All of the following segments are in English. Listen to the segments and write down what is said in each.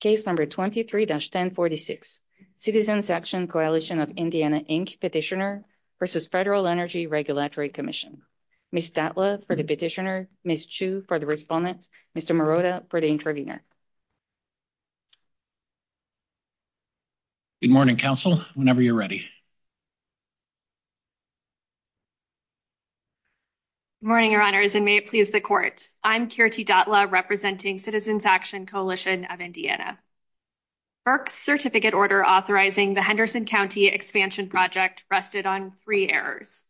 Case number 23-1046, Citizens Action Coalition of Indiana, Inc. Petitioner v. Federal Energy Regulatory Commission. Ms. Datla for the petitioner, Ms. Chu for the respondent, Mr. Marotta for the intervener. Good morning, counsel, whenever you're ready. Good morning, your honors, and may it please the court. I'm Kirti Datla representing Citizens Action Coalition of Indiana. FERC's certificate order authorizing the Henderson County Expansion Project rested on three errors.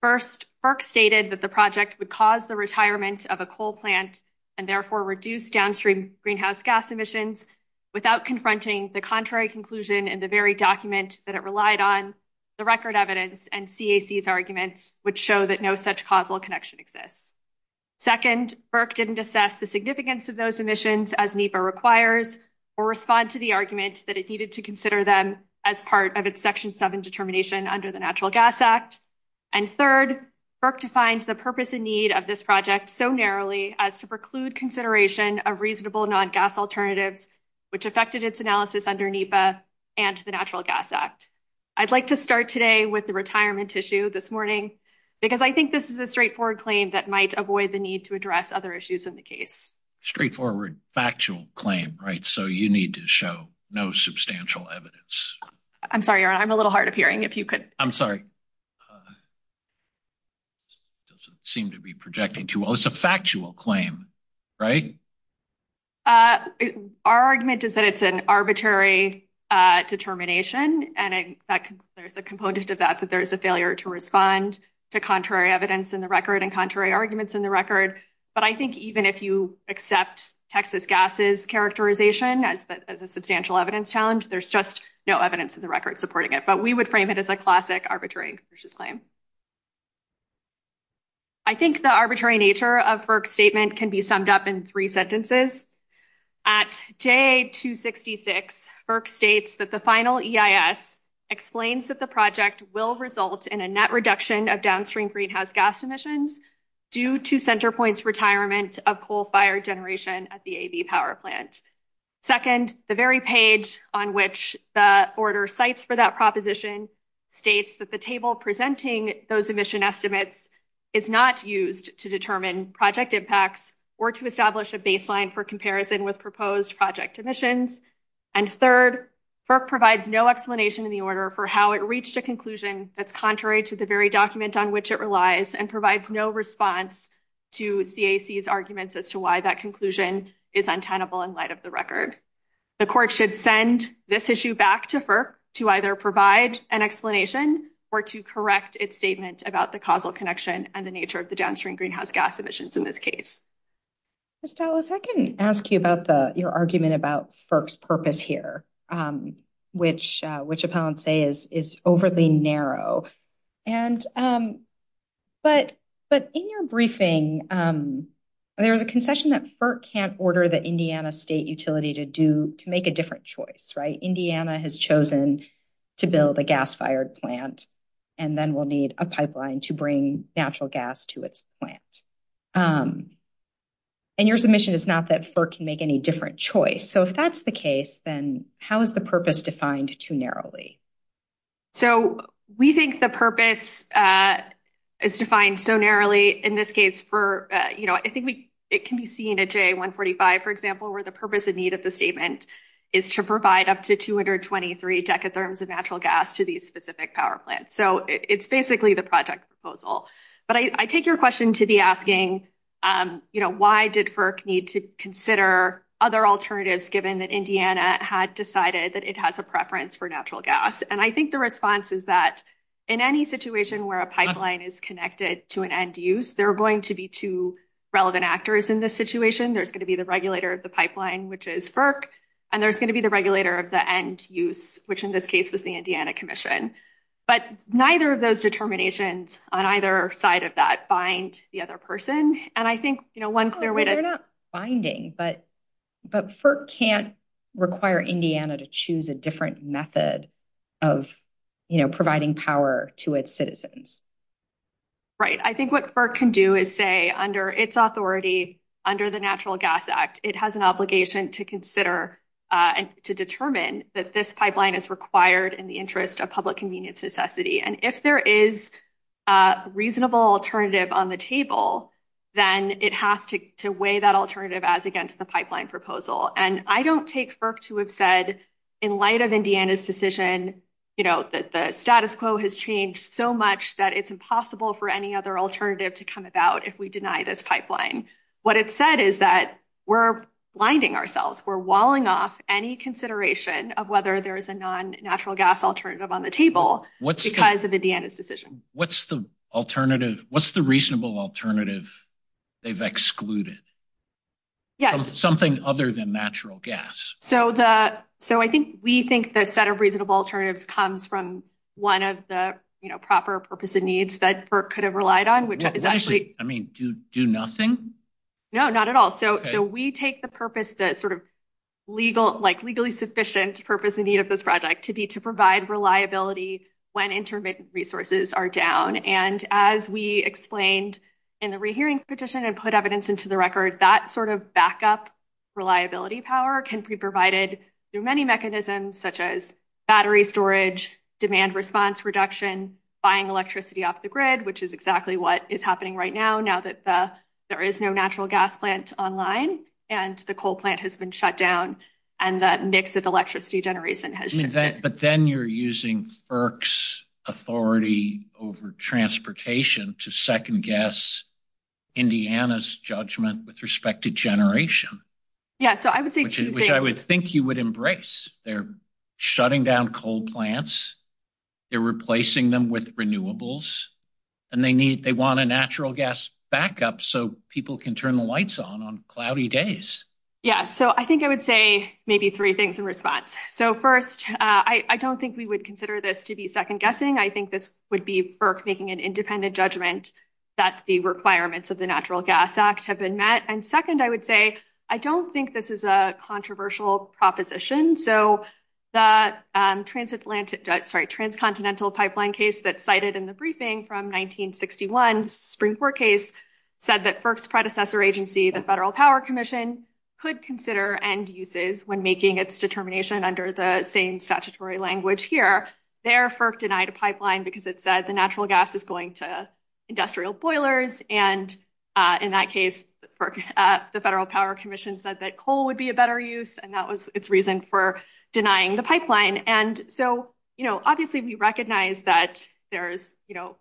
First, FERC stated that the project would cause the retirement of a coal plant and therefore reduce downstream greenhouse gas emissions without confronting the contrary conclusion in the very document that it relied on, the record evidence, and CAC's arguments which show that no such causal connection exists. Second, FERC didn't assess the significance of those emissions as NEPA requires or respond to the argument that it needed to consider them as part of its Section 7 determination under the Natural Gas Act. And third, FERC defined the purpose and need of this project so narrowly as to preclude consideration of reasonable non-gas alternatives which affected its analysis under NEPA and the Natural Gas Act. I'd like to start today with the straightforward claim that might avoid the need to address other issues in the case. Straightforward, factual claim, right? So you need to show no substantial evidence. I'm sorry, your honor, I'm a little hard of hearing if you could. I'm sorry. Doesn't seem to be projecting too well. It's a factual claim, right? Our argument is that it's an arbitrary determination and in fact there's a failure to respond to contrary evidence in the record and contrary arguments in the record. But I think even if you accept Texas gas's characterization as a substantial evidence challenge, there's just no evidence in the record supporting it. But we would frame it as a classic arbitrary and capricious claim. I think the arbitrary nature of FERC's statement can be summed up in three sentences. At day 266, FERC states that the final EIS explains that the project will result in a net reduction of downstream greenhouse gas emissions due to CenterPoint's retirement of coal fired generation at the AB power plant. Second, the very page on which the order cites for that proposition states that the table presenting those emission estimates is not used to determine project impacts or to establish a baseline for comparison with proposed project emissions. And third, FERC provides no explanation in the order for how it reached a conclusion that's contrary to the very document on which it relies and provides no response to CAC's arguments as to why that conclusion is untenable in light of the record. The court should send this issue back to FERC to either provide an explanation or to correct its statement about the causal connection and the nature of the downstream greenhouse gas emissions in this case. Ms. Talliff, I can ask you about your argument about FERC's purpose here, which appellants say is overly narrow. But in your briefing, there's a concession that FERC can't order the Indiana state utility to make a different choice, right? Indiana has chosen to build a gas-fired plant and then will need a pipeline to bring natural gas to its plant. And your submission is not that FERC can make any different choice. So if that's the case, then how is the purpose defined too narrowly? So we think the purpose is defined so narrowly in this case for, you know, I think it can be seen at JA145, for example, where the purpose and need of the statement is to provide up to 223 decatherms of natural gas to these specific power plants. So it's basically the project proposal. But I take your question to be asking, you know, why did FERC need to consider other alternatives given that Indiana had decided that it has a preference for natural gas? And I think the response is that in any situation where a pipeline is connected to an end use, there are going to be two relevant actors in this situation. There's going to be the regulator of the pipeline, which is FERC, and there's going to be the regulator of the end use, which in this case was the Indiana Commission. But neither of those determinations on either side of that bind the other person. And I think, you know, one clear way to... They're not binding, but FERC can't require Indiana to choose a different method of, you know, providing power to its citizens. Right. I think what FERC can do is say under its authority, under the Natural Gas Act, it has an interest of public convenience necessity. And if there is a reasonable alternative on the table, then it has to weigh that alternative as against the pipeline proposal. And I don't take FERC to have said in light of Indiana's decision, you know, that the status quo has changed so much that it's impossible for any other alternative to come about if we deny this pipeline. What it said is that we're blinding ourselves. We're walling off any consideration of whether there is a non-natural gas alternative on the table because of Indiana's decision. What's the alternative? What's the reasonable alternative they've excluded? Yes. Something other than natural gas. So I think we think the set of reasonable alternatives comes from one of the, you know, proper purpose and needs that FERC could have relied on, which is actually... I mean, do nothing? No, not at all. So we take the purpose that sort of legally sufficient purpose and need of this project to be to provide reliability when intermittent resources are down. And as we explained in the rehearing petition and put evidence into the record, that sort of backup reliability power can be provided through many mechanisms such as battery storage, demand response reduction, buying electricity off the grid, which is exactly what is happening right now, now that there is no natural gas plant online and the coal plant has been shut down and that mix of electricity generation has changed. But then you're using FERC's authority over transportation to second guess Indiana's judgment with respect to generation. Yeah, so I would say two things. Which I would think you would embrace. They're shutting down coal plants. They're replacing them with renewables. And they need, they want a natural gas backup so people can turn the lights on on cloudy days. Yeah, so I think I would say maybe three things in response. So first, I don't think we would consider this to be second guessing. I think this would be FERC making an independent judgment that the requirements of the Natural Gas Act have been met. And second, I would say, I don't think this is a controversial proposition. So the transatlantic, sorry, transcontinental pipeline case that's cited in the briefing from 1961, the Supreme Court case, said that FERC's predecessor agency, the Federal Power Commission, could consider end uses when making its determination under the same statutory language here. There, FERC denied a pipeline because it said the natural gas is going to industrial boilers. And in that case, the Federal Power Commission said that coal would be a better use. And that was its reason for denying the pipeline. And so, you know, obviously we recognize that there's, you know,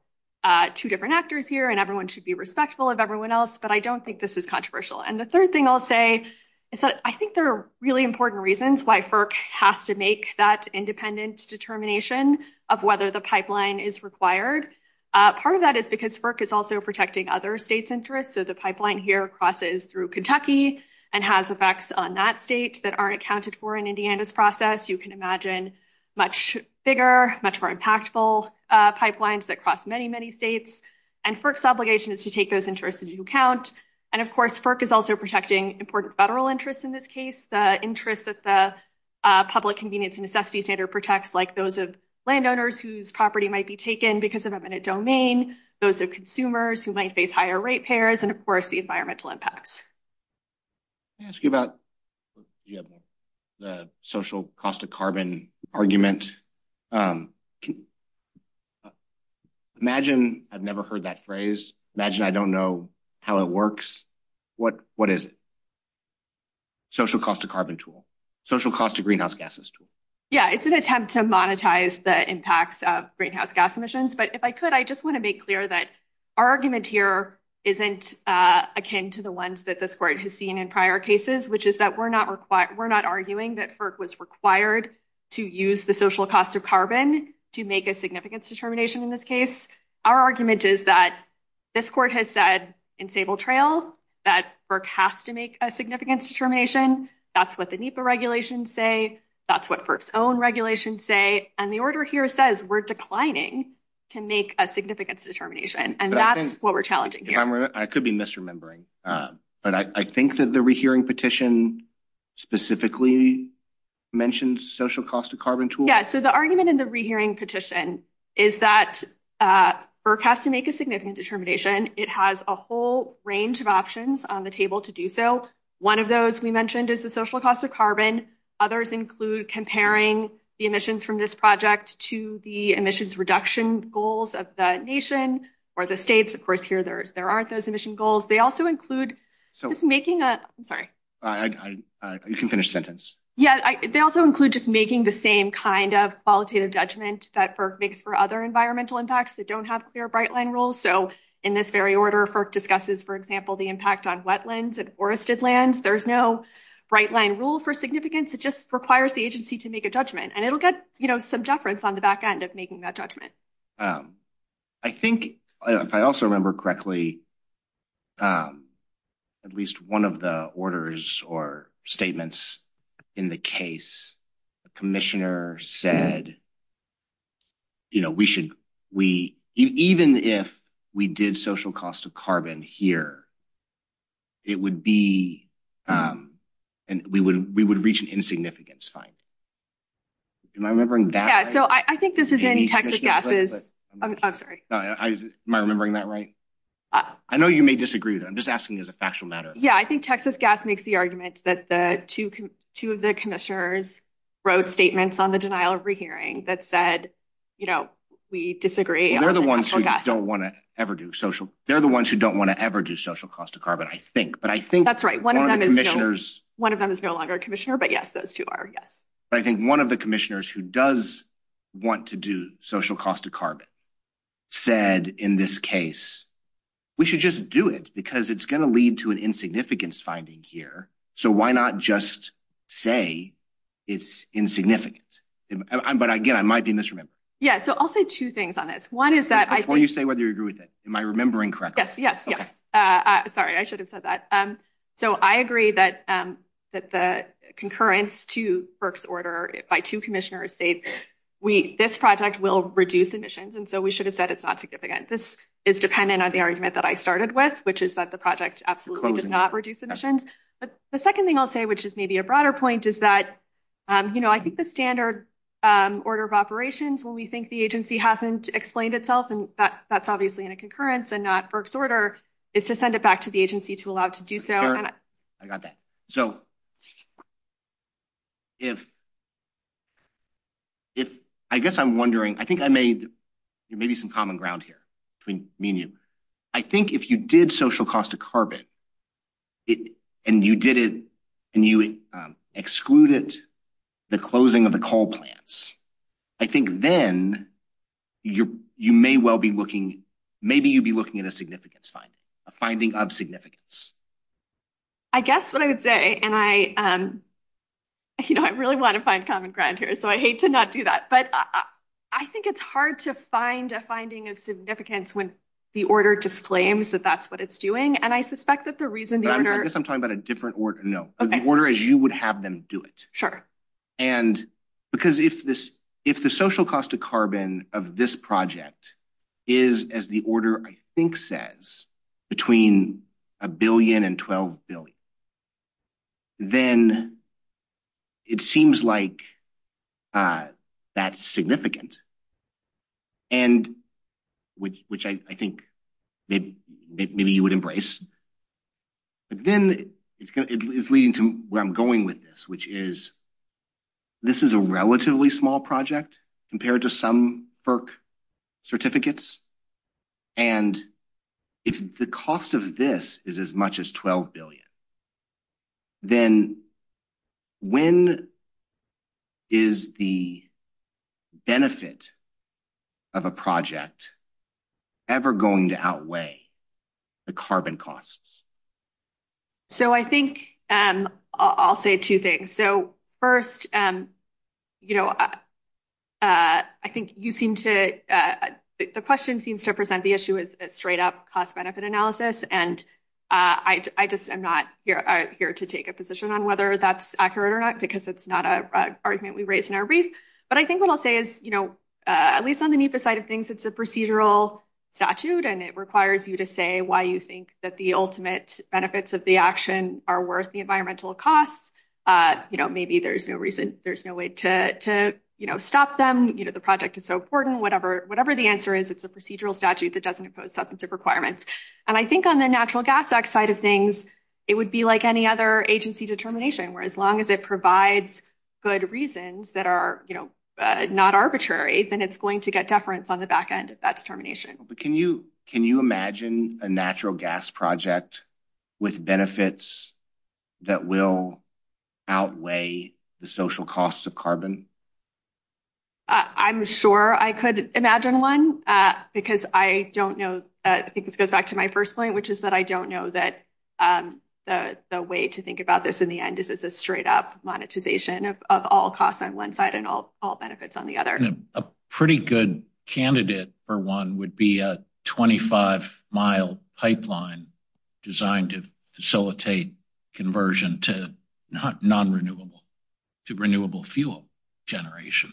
two different actors here and everyone should be respectful of everyone else. But I don't think this is controversial. And the third thing I'll say is that I think there are really important reasons why FERC has to make that independent determination of whether the pipeline is required. Part of that is because FERC is also protecting other states' interests. So the pipeline here crosses through Kentucky and has effects on that state that aren't accounted for in Indiana's process. You can imagine much bigger, much more impactful pipelines that cross many, many states. And FERC's obligation is to take those interests into account. And of course, FERC is also protecting important federal interests in this case, the interests that the public convenience and necessity standard protects, like those of landowners whose property might be taken because of eminent domain, those of consumers who might face higher rate payers, and of course, the environmental impacts. Let me ask you about the social cost of carbon argument. Imagine, I've never heard that phrase, imagine I don't know how it works. What is it? Social cost of carbon tool, social cost of greenhouse gases tool. Yeah, it's an attempt to monetize the impacts of greenhouse gas emissions. But if I could, I just want to make clear that our argument here isn't akin to the ones that this court has seen in prior cases, which is that we're not arguing that FERC was required to use the social cost of carbon to make a significance determination in this case. Our argument is that this court has said in Sable Trail that FERC has to make a significance determination. That's what the NEPA regulations say. That's what FERC's own regulations say. And the order here says we're declining to make a significance determination, and that's what we're challenging here. I could be misremembering, but I think that the rehearing petition specifically mentioned social cost of carbon tool. Yeah, so the argument in the rehearing petition is that FERC has to make a significant determination. It has a whole range of options on the table to do so. One of those we mentioned is the social cost of carbon. Others include comparing the emissions from this project to the emissions reduction goals of the nation or the states. Of course, here there aren't those emission goals. They also include just making a... I'm sorry. You can finish the sentence. Yeah, they also include just making the same kind of qualitative judgment that FERC makes for other environmental impacts that don't have clear bright line rules. So in this very order, FERC discusses, for example, the impact on wetlands and forested lands. There's no bright line rule for significance. It just requires the agency to make a judgment, and it'll get some jufferance on the back end of making that judgment. I think, if I also remember correctly, at least one of the orders or statements in the case, the commissioner said, even if we did social cost of carbon here, it would be... We would reach an insignificance, fine. Am I remembering that right? Yeah, so I think this is in Texas Gas's... I'm sorry. Am I remembering that right? I know you may disagree with it. I'm just asking as a factual matter. Yeah, I think Texas Gas makes the argument that the two of the commissioners wrote statements on the denial of rehearing that said, we disagree. Well, they're the ones who don't want to ever do social cost of carbon, I think. But I think one of the commissioners... One of them is no longer a commissioner, but yes, those two are, yes. But I think one of the commissioners who does want to do social cost of carbon said, in this case, we should just do it because it's going to lead to an insignificance finding here. So why not just say it's insignificant? But again, I might be misremembering. Yeah, so I'll say two things on this. One is that I think... Before you say whether you agree with it, am I remembering correctly? Yes, yes, yes. Sorry, I should have said that. So I agree that the concurrence to Burke's order by two commissioners states this project will reduce emissions. And so we should have said it's not significant. This is dependent on the argument that I started with, which is that the project absolutely does not reduce emissions. But the second thing I'll say, which is maybe a broader point, is that I think the standard order of operations, when we think the agency hasn't explained itself, and that's obviously in a concurrence and not Burke's order, is to send it back to the agency to allow it to do so. Sure, I got that. So I guess I'm wondering, I think I made maybe some common ground here between me and you. I think if you did social cost of carbon and you excluded the closing of the coal plants, I think then you may well be looking... Maybe you'd be looking at a significance finding, a finding of significance. I guess what I would say, and I really want to find common ground here, so I hate to not do that. But I think it's hard to find a finding of significance when the order disclaims that that's what it's doing. And I suspect that the reason the order... I guess I'm talking about a different order. No, the order is you would have them do it. And because if the social cost of carbon of this project is, as the order I think says, between a billion and 12 billion, then it seems like that's significant, which I think maybe you would embrace. But then it's leading to where I'm going with this, which is this is a relatively small project compared to some FERC certificates. And if the cost of this is as much as 12 billion, then when is the benefit of a project ever going to outweigh the carbon costs? So I think I'll say two things. So first, I think you seem to... The question seems to present the issue as a straight up cost-benefit analysis. And I just am not here to take a position on whether that's accurate or not, because it's not an argument we raised in our brief. But I think what I'll say is, at least on the NEPA side of things, it's a procedural statute, and it requires you to say why you think that the ultimate benefits of the action are worth the environmental costs. Maybe there's no reason, there's no way to stop them. The project is so important. Whatever the answer is, it's a procedural statute that doesn't impose substantive requirements. And I think on the Natural Gas Act side of things, it would be like any other agency determination, where as long as it provides good reasons that are not arbitrary, then it's going to get deference on the back end of that determination. But can you imagine a natural gas project with benefits that will outweigh the social costs of carbon? I'm sure I could imagine one, because I don't know... I think this goes back to my first point, which is that I don't know that the way to think about this in the end is as a straight-up monetization of all costs on one side and all benefits on the other. A pretty good candidate for one would be a 25-mile pipeline designed to facilitate conversion to non-renewable, to renewable fuel generation.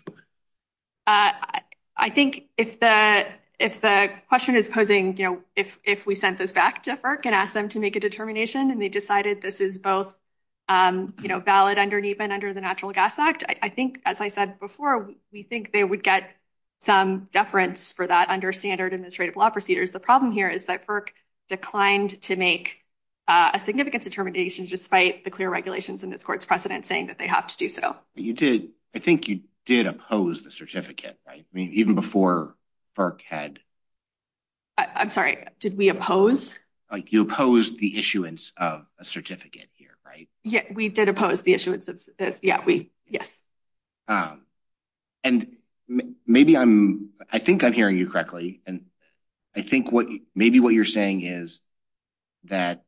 I think if the question is posing, you know, if we sent this back to FERC and asked them to make a determination, and they decided this is both valid under NEPA and under the Natural Gas Act, I think, as I said before, we think they would get some deference for that under standard administrative law procedures. The problem here is that FERC declined to make a significance determination despite the clear regulations in this court's precedent saying that they have to do so. I think you did oppose the certificate, right? I mean, even before FERC had... I'm sorry, did we oppose? You opposed the certificate here, right? Yeah, we did oppose the issuance of... yeah, we... yes. And maybe I'm... I think I'm hearing you correctly, and I think maybe what you're saying is that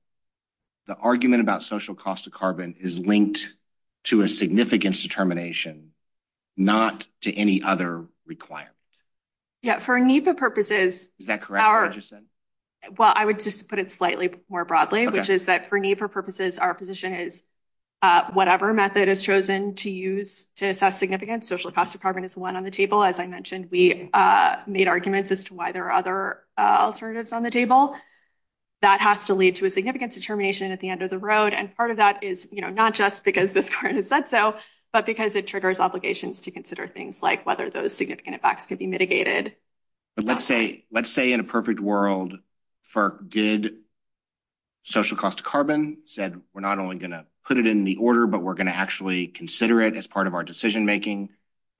the argument about social cost of carbon is linked to a significance determination, not to any other requirement. Yeah, for NEPA purposes... Is that correct? Well, I would just put it slightly more our position is whatever method is chosen to use to assess significance, social cost of carbon is one on the table. As I mentioned, we made arguments as to why there are other alternatives on the table. That has to lead to a significance determination at the end of the road, and part of that is, you know, not just because this court has said so, but because it triggers obligations to consider things like whether those significant effects could be mitigated. But let's say in a we're not only going to put it in the order, but we're going to actually consider it as part of our decision making,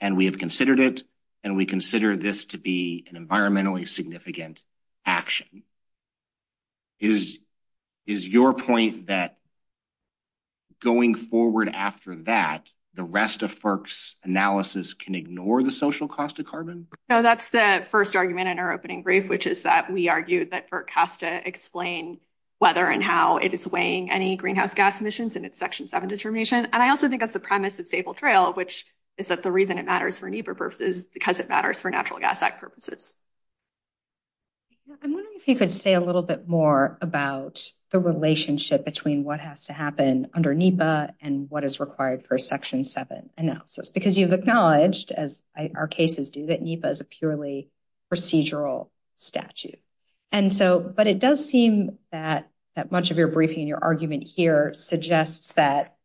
and we have considered it, and we consider this to be an environmentally significant action. Is your point that going forward after that, the rest of FERC's analysis can ignore the social cost of carbon? No, that's the first argument in our opening brief, which is that we argue that FERC has to explain whether and how it is weighing any greenhouse gas emissions in its Section 7 determination, and I also think that's the premise of Staple Trail, which is that the reason it matters for NEPA purposes is because it matters for Natural Gas Act purposes. I'm wondering if you could say a little bit more about the relationship between what has to happen under NEPA and what is required for a Section 7 analysis, because you've acknowledged, as our cases do, that NEPA is a purely procedural statute. But it does seem that much of your briefing and your argument here suggests that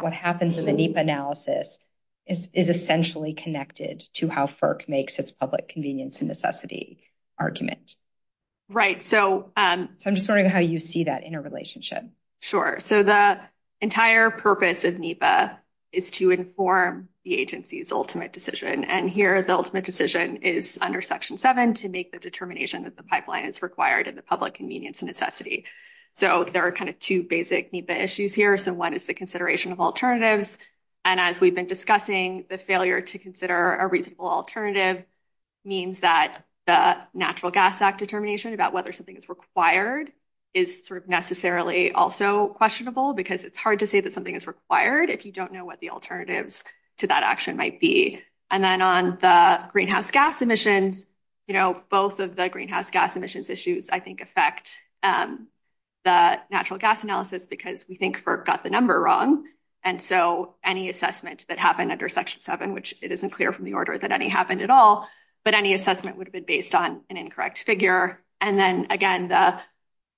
what happens in the NEPA analysis is essentially connected to how FERC makes its public convenience and necessity argument. Right, so I'm just wondering how you see that interrelationship. Sure, so the entire purpose of NEPA is to inform the agency's ultimate decision, and here the ultimate decision is under Section 7 to make the determination that the pipeline is required in the public convenience and necessity. So there are kind of two basic NEPA issues here. So one is the consideration of alternatives, and as we've been discussing, the failure to consider a reasonable alternative means that the Natural Gas Act determination about whether something is required is sort of necessarily also questionable, because it's hard to say that something is required if you don't know what the action might be. And then on the greenhouse gas emissions, you know, both of the greenhouse gas emissions issues, I think, affect the natural gas analysis because we think FERC got the number wrong. And so any assessment that happened under Section 7, which it isn't clear from the order that any happened at all, but any assessment would have been based on an incorrect figure. And then again, the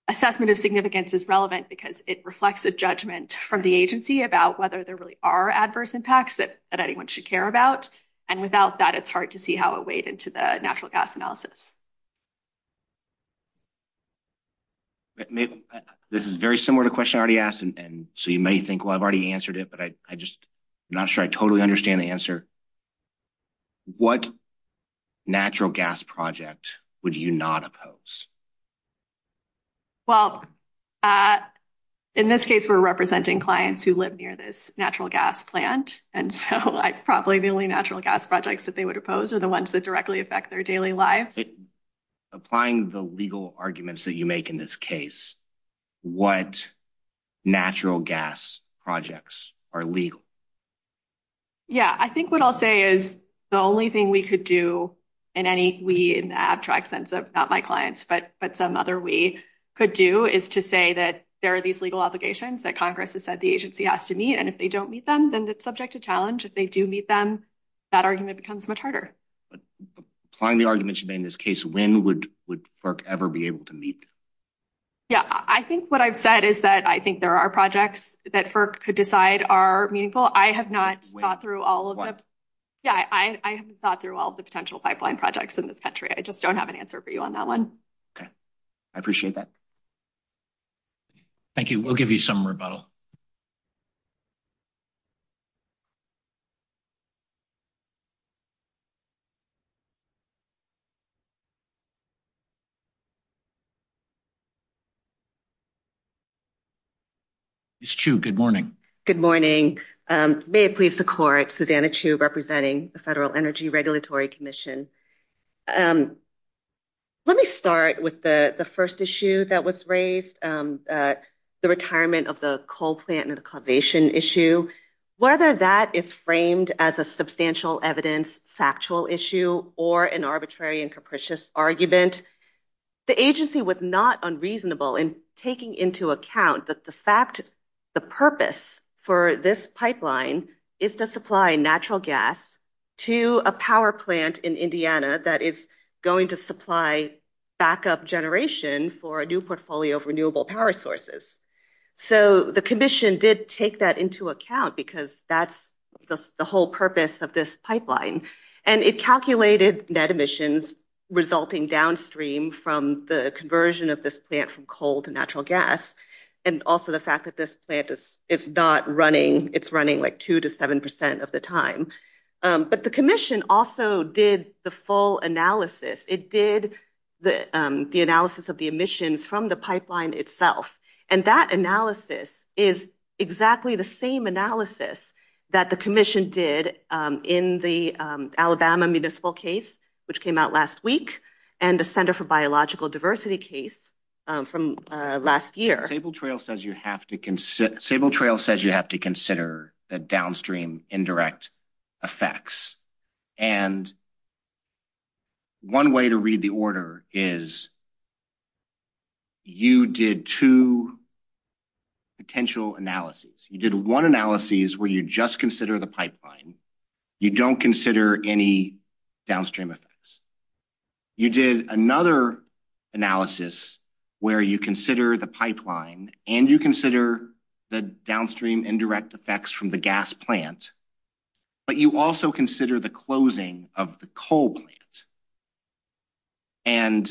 assessment of significance is relevant because it reflects a judgment from the agency about whether there really are adverse impacts that anyone should care about, and without that, it's hard to see how it weighed into the natural gas analysis. This is very similar to a question I already asked, and so you may think, well, I've already answered it, but I just, I'm not sure I totally understand the answer. What natural gas project would you not oppose? Well, in this case, we're representing clients who live near this natural gas plant, and so probably the only natural gas projects that they would oppose are the ones that directly affect their daily lives. Applying the legal arguments that you make in this case, what natural gas projects are legal? Yeah, I think what I'll say is the only thing we could do, in any way, in the abstract sense of not my clients, but some other way could do, is to say that there are these legal obligations that Congress has said the agency has to meet, and if they don't meet them, then it's subject to challenge. If they do meet them, that argument becomes much harder. Applying the arguments you made in this case, when would FERC ever be able to meet them? Yeah, I think what I've said is that I think there are projects that FERC could decide are meaningful. I have not thought through all of them. Yeah, I haven't thought through all the potential pipeline projects in this country. I just don't have an answer for you on that one. Okay. I appreciate that. Thank you. We'll give you some rebuttal. Ms. Chu, good morning. Good morning. May it please the Court, Susanna Chu representing the Federal Energy Regulatory Commission. Let me start with the first issue that was raised, the retirement of the coal plant and the causation issue. Whether that is framed as a substantial evidence, factual issue, or an arbitrary and capricious argument, the agency was not unreasonable in taking into account that the purpose for this pipeline was to supply natural gas to a power plant in Indiana that is going to supply backup generation for a new portfolio of renewable power sources. The Commission did take that into account because that's the whole purpose of this pipeline. It calculated net emissions resulting downstream from the conversion of this plant from coal to natural gas, and also the fact that this pipeline was going to be used by the coal plant for the first time in a long period of time. The Commission also did the full analysis. It did the analysis of the emissions from the pipeline itself. That analysis is exactly the same analysis that the Commission did in the Alabama municipal case, which came out last week, and the Center for Biological Diversity case from last year. Sable Trail says you have to consider the downstream indirect effects, and one way to read the order is you did two potential analyses. You did one analysis where you just consider the pipeline. You don't consider any downstream effects. You did another analysis where you consider the pipeline, and you consider the downstream indirect effects from the gas plant, but you also consider the closing of the coal plant, and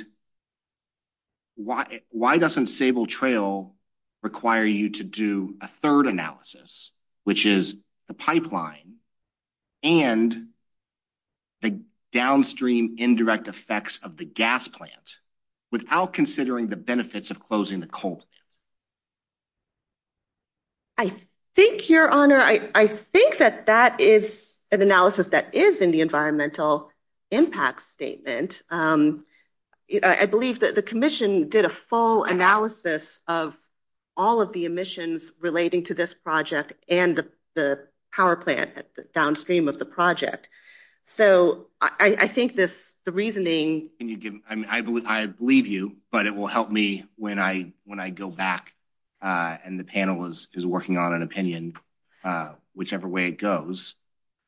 why doesn't Sable Trail require you to do a third analysis, which is the pipeline and the downstream indirect effects of the gas plant, without considering the benefits of closing the coal plant? I think, Your Honor, I think that that is an analysis that is in the environmental impact statement. I believe that the Commission did a full analysis of all of the emissions relating to this project and the power plant downstream of the project, so I think the reasoning... I believe you, but it will help me when I go back and the panel is working on an opinion, whichever way it goes,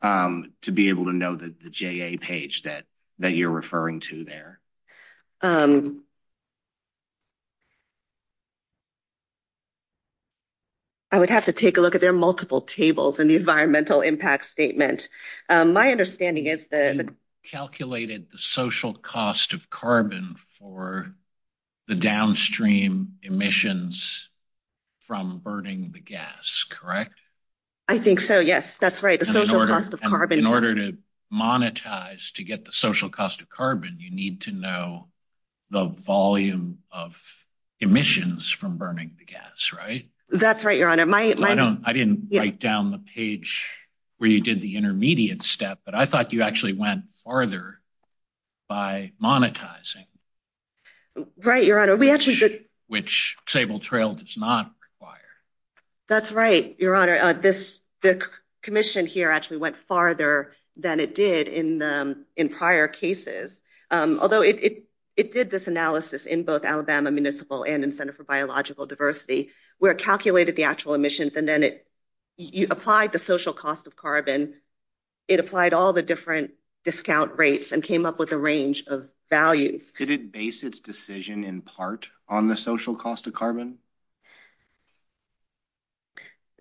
to be able to know the JA page that you're referring to there. I would have to take a look at... there are multiple tables in the environmental impact statement. My understanding is that... You calculated the social cost of carbon for the downstream emissions from burning the gas, correct? I think so, yes. That's right, the social cost of carbon. In order to monetize to get the social cost of carbon, you need to know the volume of emissions from burning the gas, right? That's right, Your Honor. I didn't write down the page where you did the intermediate step, but I thought you actually went farther by monetizing. Right, Your Honor. Which Sable Trail does not require. That's right, Your Honor. The Commission here actually went farther than it did in prior cases, although it did this analysis in both Alabama Municipal and in Center for Biological Diversity, where it calculated the actual emissions and then it applied the social cost of carbon. It applied all the different discount rates and came up with a range of values. Could it base its decision in part on the social cost of carbon?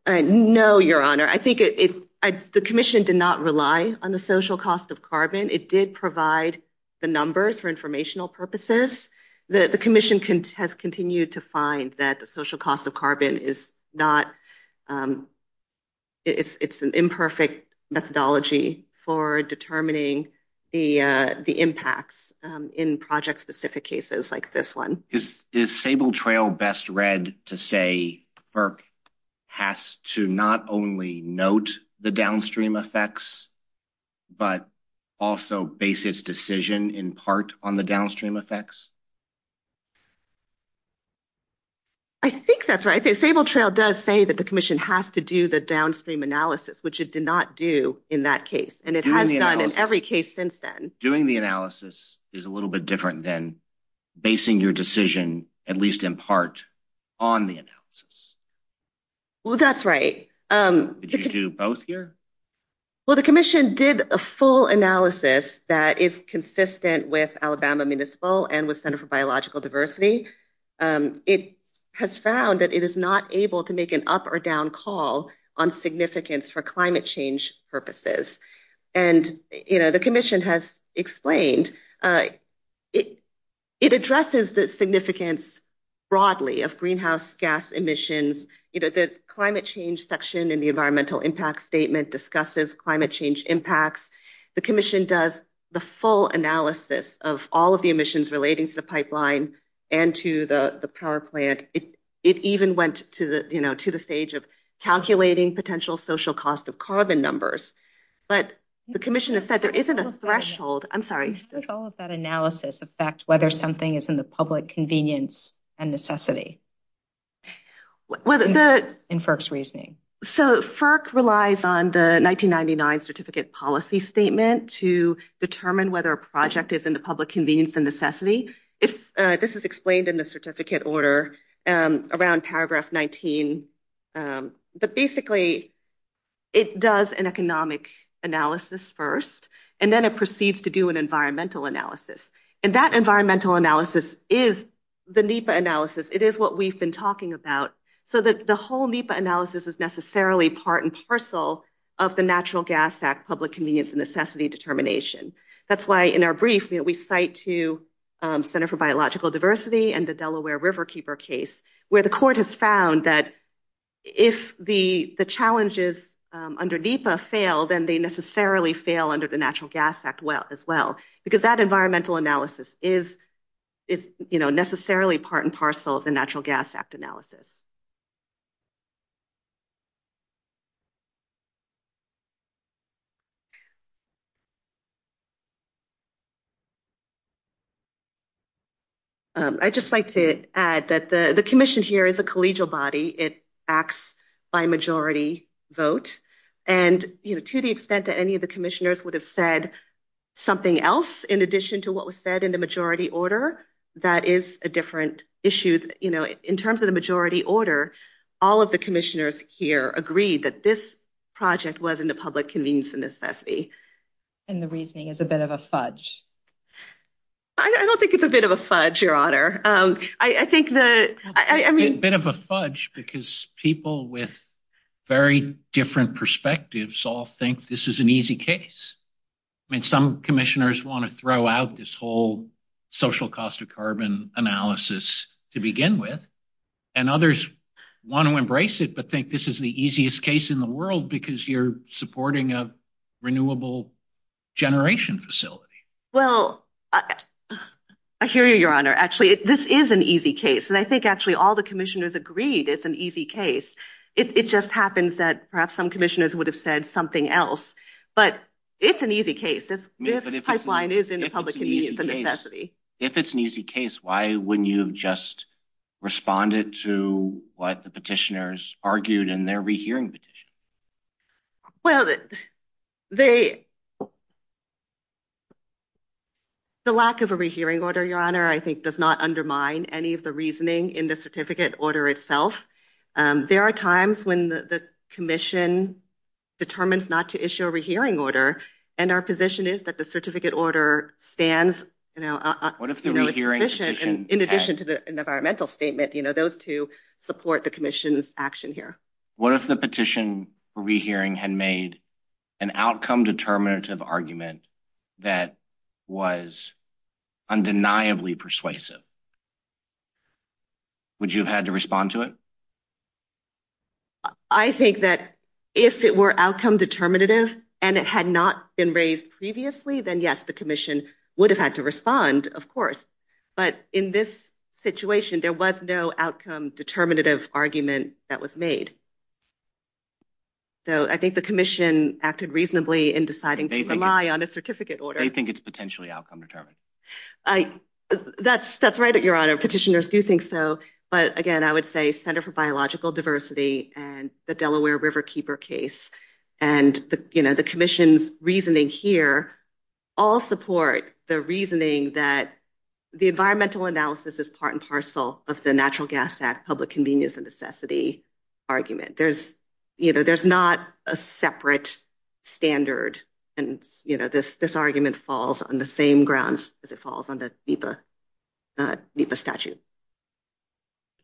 No, Your Honor. I think the Commission did not rely on the social cost of carbon. It did provide the numbers for informational purposes. The Commission has continued to find that the social cost of carbon is an imperfect methodology for determining the impacts in project-specific cases like this one. Is Sable Trail best read to say FERC has to not only note the downstream effects but also base its decision in part on the downstream effects? I think that's right. The Sable Trail does say that the Commission has to do the downstream analysis, which it did not do in that case, and it has done in every case since then. Doing the analysis is a little bit different than basing your decision, at least in part, on the analysis. Well, that's right. Did you do both here? Well, the Commission did a full analysis that is consistent with Alabama Municipal and with Center for Biological Diversity. It has found that it is not able to make an up or down call on significance for climate change purposes. The Commission has explained that it addresses the significance broadly of greenhouse gas emissions. The climate change section in the environmental impact statement discusses climate change impacts. The Commission does the full analysis of all of the emissions relating to the pipeline and to the power plant. It even went to the stage of calculating potential social cost of carbon numbers, but the Commission has said there isn't a threshold. I'm sorry. Does all of that analysis affect whether something is in the public convenience and necessity in FERC's reasoning? So, FERC relies on the 1999 Certificate Policy Statement to determine whether a project is in the public convenience and necessity. This is explained in the certificate order around paragraph 19, but basically, it does an economic analysis first, and then it proceeds to do an environmental analysis. And that environmental analysis is the NEPA analysis. It is what we've been talking about. So, the whole NEPA analysis is necessarily part and parcel of the Natural Gas Act public convenience and necessity determination. That's why in our brief, we cite to Center for Biological Diversity and the Delaware Riverkeeper case, where the court has found that if the challenges under NEPA fail, then they necessarily fail under the Natural Gas Act as well, because that environmental analysis is necessarily part and parcel of the Natural Gas Act analysis. I'd just like to add that the commission here is a collegial body. It acts by majority vote. And, you know, to the extent that any of the commissioners would have said something else in addition to what was said in the majority order, that is a different issue. You know, in terms of the majority order, it's a different issue. And, you know, all of the commissioners here agreed that this project wasn't a public convenience and necessity. And the reasoning is a bit of a fudge. I don't think it's a bit of a fudge, Your Honor. I think that, I mean... A bit of a fudge, because people with very different perspectives all think this is an easy case. I mean, some commissioners want to throw out this whole social cost of carbon analysis to begin with, and others want to embrace it, but think this is the easiest case in the world, because you're supporting a renewable generation facility. Well, I hear you, Your Honor. Actually, this is an easy case. And I think actually all the commissioners agreed it's an easy case. It just happens that perhaps some commissioners would have said something else. But it's an easy case. This pipeline is in public convenience and necessity. If it's an easy case, why wouldn't you have just responded to what the petitioners argued in their rehearing petition? Well, the lack of a rehearing order, Your Honor, I think does not undermine any of the reasoning in the certificate order itself. There are times when the commission determines not to issue a What if the rehearing petition... In addition to the environmental statement, those two support the commission's action here. What if the petition for rehearing had made an outcome determinative argument that was undeniably persuasive? Would you have had to respond to it? I think that if it were outcome determinative and it had not been raised previously, then yes, the commission would have had to respond, of course. But in this situation, there was no outcome determinative argument that was made. So I think the commission acted reasonably in deciding to rely on a certificate order. They think it's potentially outcome determined. That's right, Your Honor. Petitioners do think so. But again, I would say Center for Biological support the reasoning that the environmental analysis is part and parcel of the Natural Gas Act Public Convenience and Necessity argument. There's not a separate standard, and this argument falls on the same grounds as it falls on the NEPA statute.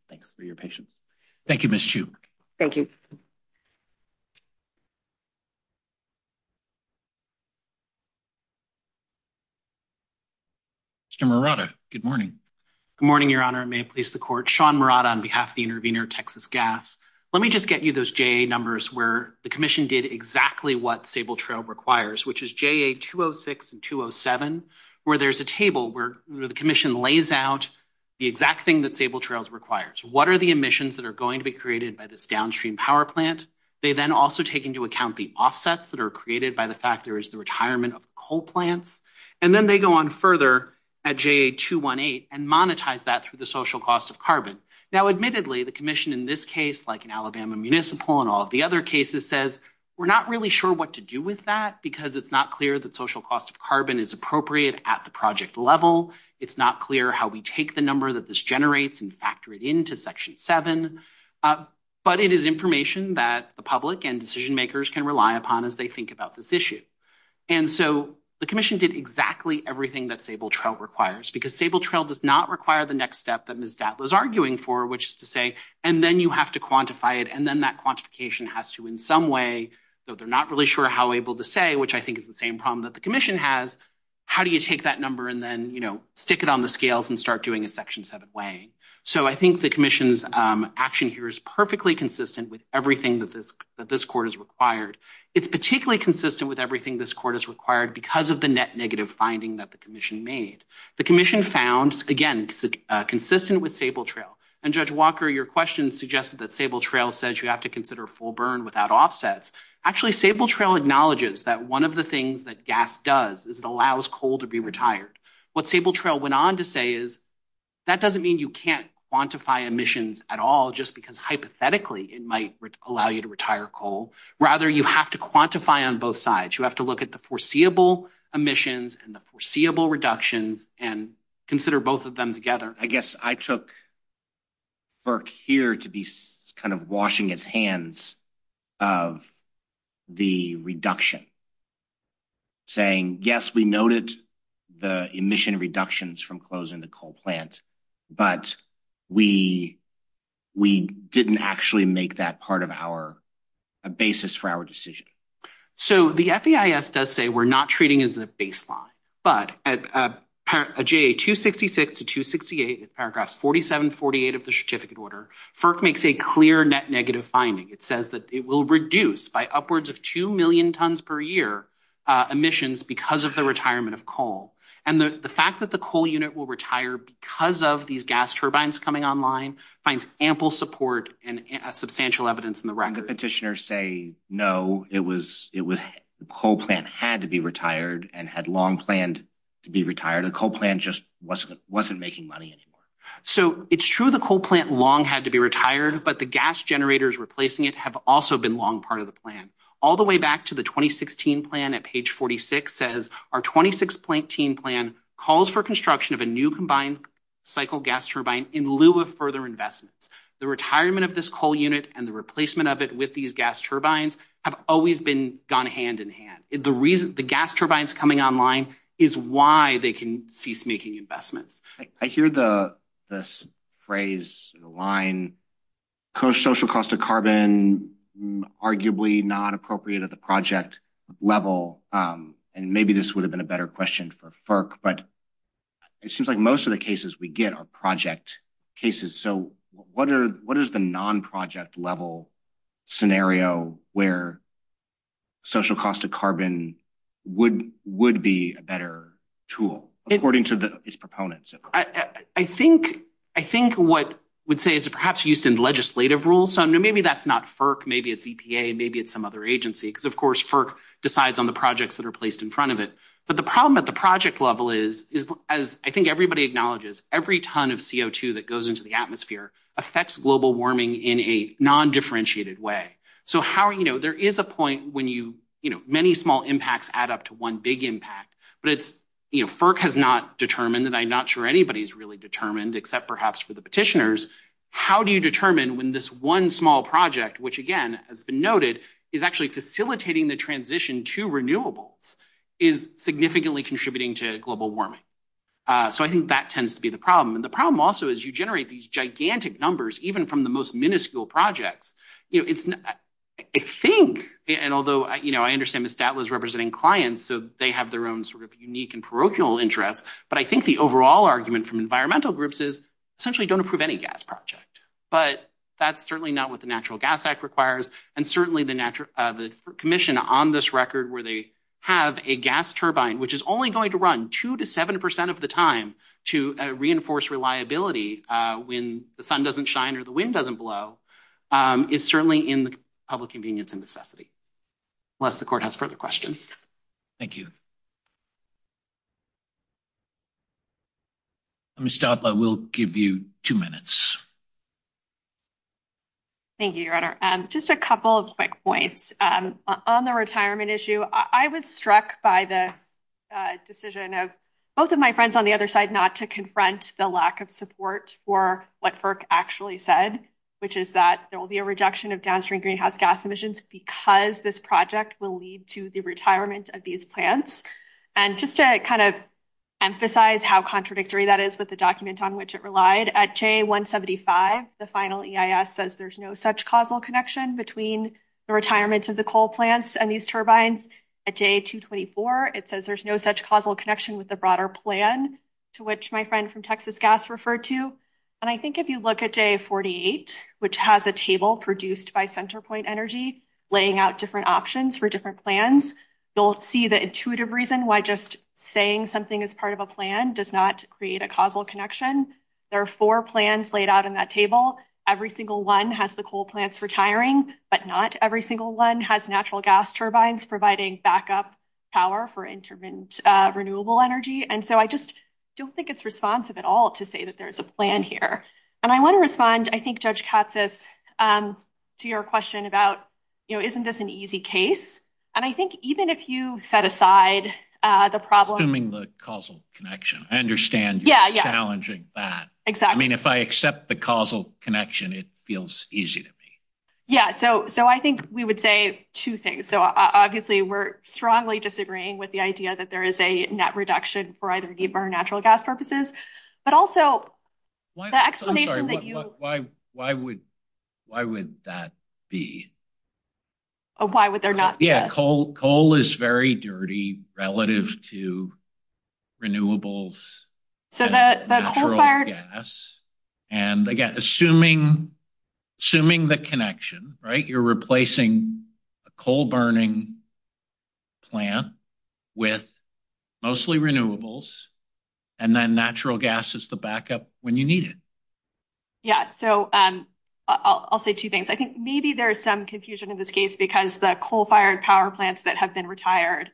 Thanks for your patience. Thank you, Ms. Chu. Thank you. Mr. Morata, good morning. Good morning, Your Honor. It may please the Court. Sean Morata on behalf of the intervener, Texas Gas. Let me just get you those JA numbers where the commission did exactly what Sable Trail requires, which is JA 206 and 207, where there's a table where the commission lays out the exact thing that Sable Trail requires. What are the emissions that are going to be created by this downstream power plant? They then also take into account the offsets that are created by the fact and then they go on further at JA 218 and monetize that through the social cost of carbon. Now, admittedly, the commission in this case, like in Alabama Municipal and all the other cases, says we're not really sure what to do with that because it's not clear that social cost of carbon is appropriate at the project level. It's not clear how we take the number that this generates and factor it into Section 7. But it is information that the public and decision makers can rely upon as they think about this issue. And so the commission did exactly everything that Sable Trail requires, because Sable Trail does not require the next step that Ms. Datla is arguing for, which is to say, and then you have to quantify it. And then that quantification has to, in some way, though they're not really sure how able to say, which I think is the same problem that the commission has, how do you take that number and then, you know, stick it on the scales and start doing a Section 7 way? So I think the commission's action here is perfectly consistent with everything that this court has required. It's particularly consistent with everything this court has required because of the net negative finding that the commission made. The commission found, again, consistent with Sable Trail. And Judge Walker, your question suggested that Sable Trail says you have to consider full burn without offsets. Actually, Sable Trail acknowledges that one of the things that gas does is it allows coal to be retired. What Sable Trail went on to say is that doesn't mean you can't quantify emissions at all, just because hypothetically it might allow you to retire coal. Rather, you have to quantify on both sides. You have to look at the foreseeable emissions and the foreseeable reductions and consider both of them together. I guess I took Burke here to be kind of washing his hands of the reduction, saying, yes, we noted the emission reductions from closing the coal plant, but we didn't actually make that part of our basis for our decision. So the FEIS does say we're not treating it as a baseline. But at J.A. 266 to 268, paragraphs 47, 48 of the certificate order, FERC makes a clear net negative finding. It says that it will reduce by upwards of 2 million tons per year emissions because of the retirement of coal. And the fact that the coal unit will retire because of these gas turbines coming online finds ample support and substantial evidence in the record. The petitioners say, no, the coal plant had to be retired and had long planned to be retired. The coal plant just wasn't making money anymore. So it's true the coal plant long had to be retired, but the gas generators replacing it have also been long part of the plan. All the way back to the 2016 plan at page 46 says our 2016 plan calls for construction of a new combined cycle gas turbine in lieu of further investments. The retirement of this coal unit and the replacement of it with these gas turbines have always been gone hand in hand. The reason the gas turbines coming online is why they can cease making investments. I hear the phrase, the line, social cost of carbon, arguably not appropriate at the project level. And maybe this would have been a better question for FERC, but it seems like most of the cases we get are project cases. So what is the non-project level scenario where social cost of carbon would be a better tool according to its proponents? I think what I would say is perhaps used in legislative rules. So maybe that's not FERC, maybe it's EPA, maybe it's some other agency, because of course, FERC decides on the projects that are placed in front of it. But the problem at the project level is, as I think everybody acknowledges, every ton of CO2 that goes into the atmosphere affects global warming in a non-differentiated way. So there is a point when many small impacts add up to one big impact, but FERC has not determined, and I'm not sure anybody's really determined except perhaps for the petitioners, how do you determine when this one small project, which again has been noted, is actually facilitating the transition to renewables, is significantly contributing to global warming? So I think that tends to be the problem. And the problem also is you generate these gigantic numbers, even from the most minuscule projects. I think, and although I understand Ms. Datla is representing clients, so they have their own sort of unique and parochial interests, but I think the overall argument from environmental groups is essentially don't approve any gas project. But that's certainly not what the Natural Gas Act requires, and certainly the commission on this record where they have a gas turbine, which is only going to run two to seven percent of the time to reinforce reliability when the sun doesn't shine or the wind doesn't blow, is certainly in the public convenience and necessity. Unless the court has further questions. Thank you. Ms. Datla, we'll give you two minutes. Thank you, Your Honor. Just a couple of quick points. On the retirement issue, I was struck by the decision of both of my friends on the other side not to confront the lack of support for what FERC actually said, which is that there will be a rejection of downstream greenhouse gas emissions because this project will lead to the retirement of these plants. And just to kind of emphasize how contradictory that is with the document on which it relied, at J175, the final EIS says there's no such causal connection between the retirement of the coal plants and these turbines. At J224, it says there's no such causal connection with the broader plan, to which my friend from Texas Gas referred to. And I think if you look at J48, which has a table produced by Centerpoint Energy, laying out different options for different plans, you'll see the intuitive reason why just saying something is part of a plan does not create a causal connection. There are four plans laid out in that table. Every single one has the coal plants retiring, but not every single one has natural gas turbines providing backup power for intermittent renewable energy. And so I just don't think it's responsive at all to say that there's a plan here. And I want to respond, I think, Judge Katsas, to your question about, you know, isn't this an easy case? And I think even if you set aside the problem... Assuming the causal connection, I understand you're challenging that. Exactly. I mean, if I accept the causal connection, it feels easy to me. Yeah, so I think we would say two things. So obviously, we're strongly disagreeing with the idea that there is a net reduction for either the burn natural gas purposes, but also the explanation that you... I'm sorry, why would that be? Why would there not be a... Yeah, coal is very dirty relative to renewables and natural gas. So the coal fired... And again, assuming the connection, right? You're the backup when you need it. Yeah, so I'll say two things. I think maybe there's some confusion in this case because the coal fired power plants that have been retired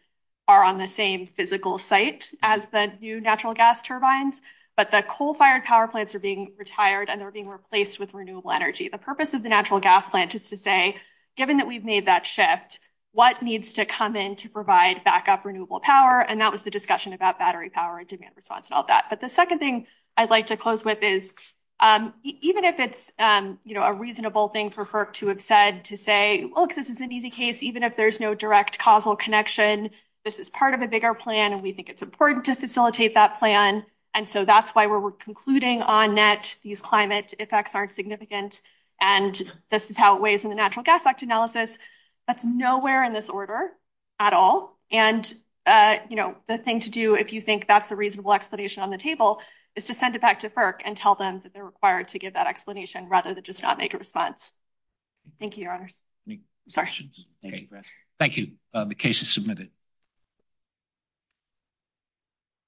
are on the same physical site as the new natural gas turbines, but the coal fired power plants are being retired and they're being replaced with renewable energy. The purpose of the natural gas plant is to say, given that we've made that shift, what needs to come in to provide backup renewable power? And that was the discussion about battery power and demand response and all that. But the second thing I'd like to close with is, even if it's a reasonable thing for FERC to have said to say, look, this is an easy case, even if there's no direct causal connection, this is part of a bigger plan and we think it's important to facilitate that plan. And so that's why we're concluding on net, these climate effects aren't significant. And this is how it weighs in the Natural Gas Act analysis. That's nowhere in this order at all. And the thing to do, if you think that's a reasonable explanation on the table, is to send it back to FERC and tell them that they're required to give that explanation rather than just not make a response. Thank you, your honors. Thank you. The case is submitted.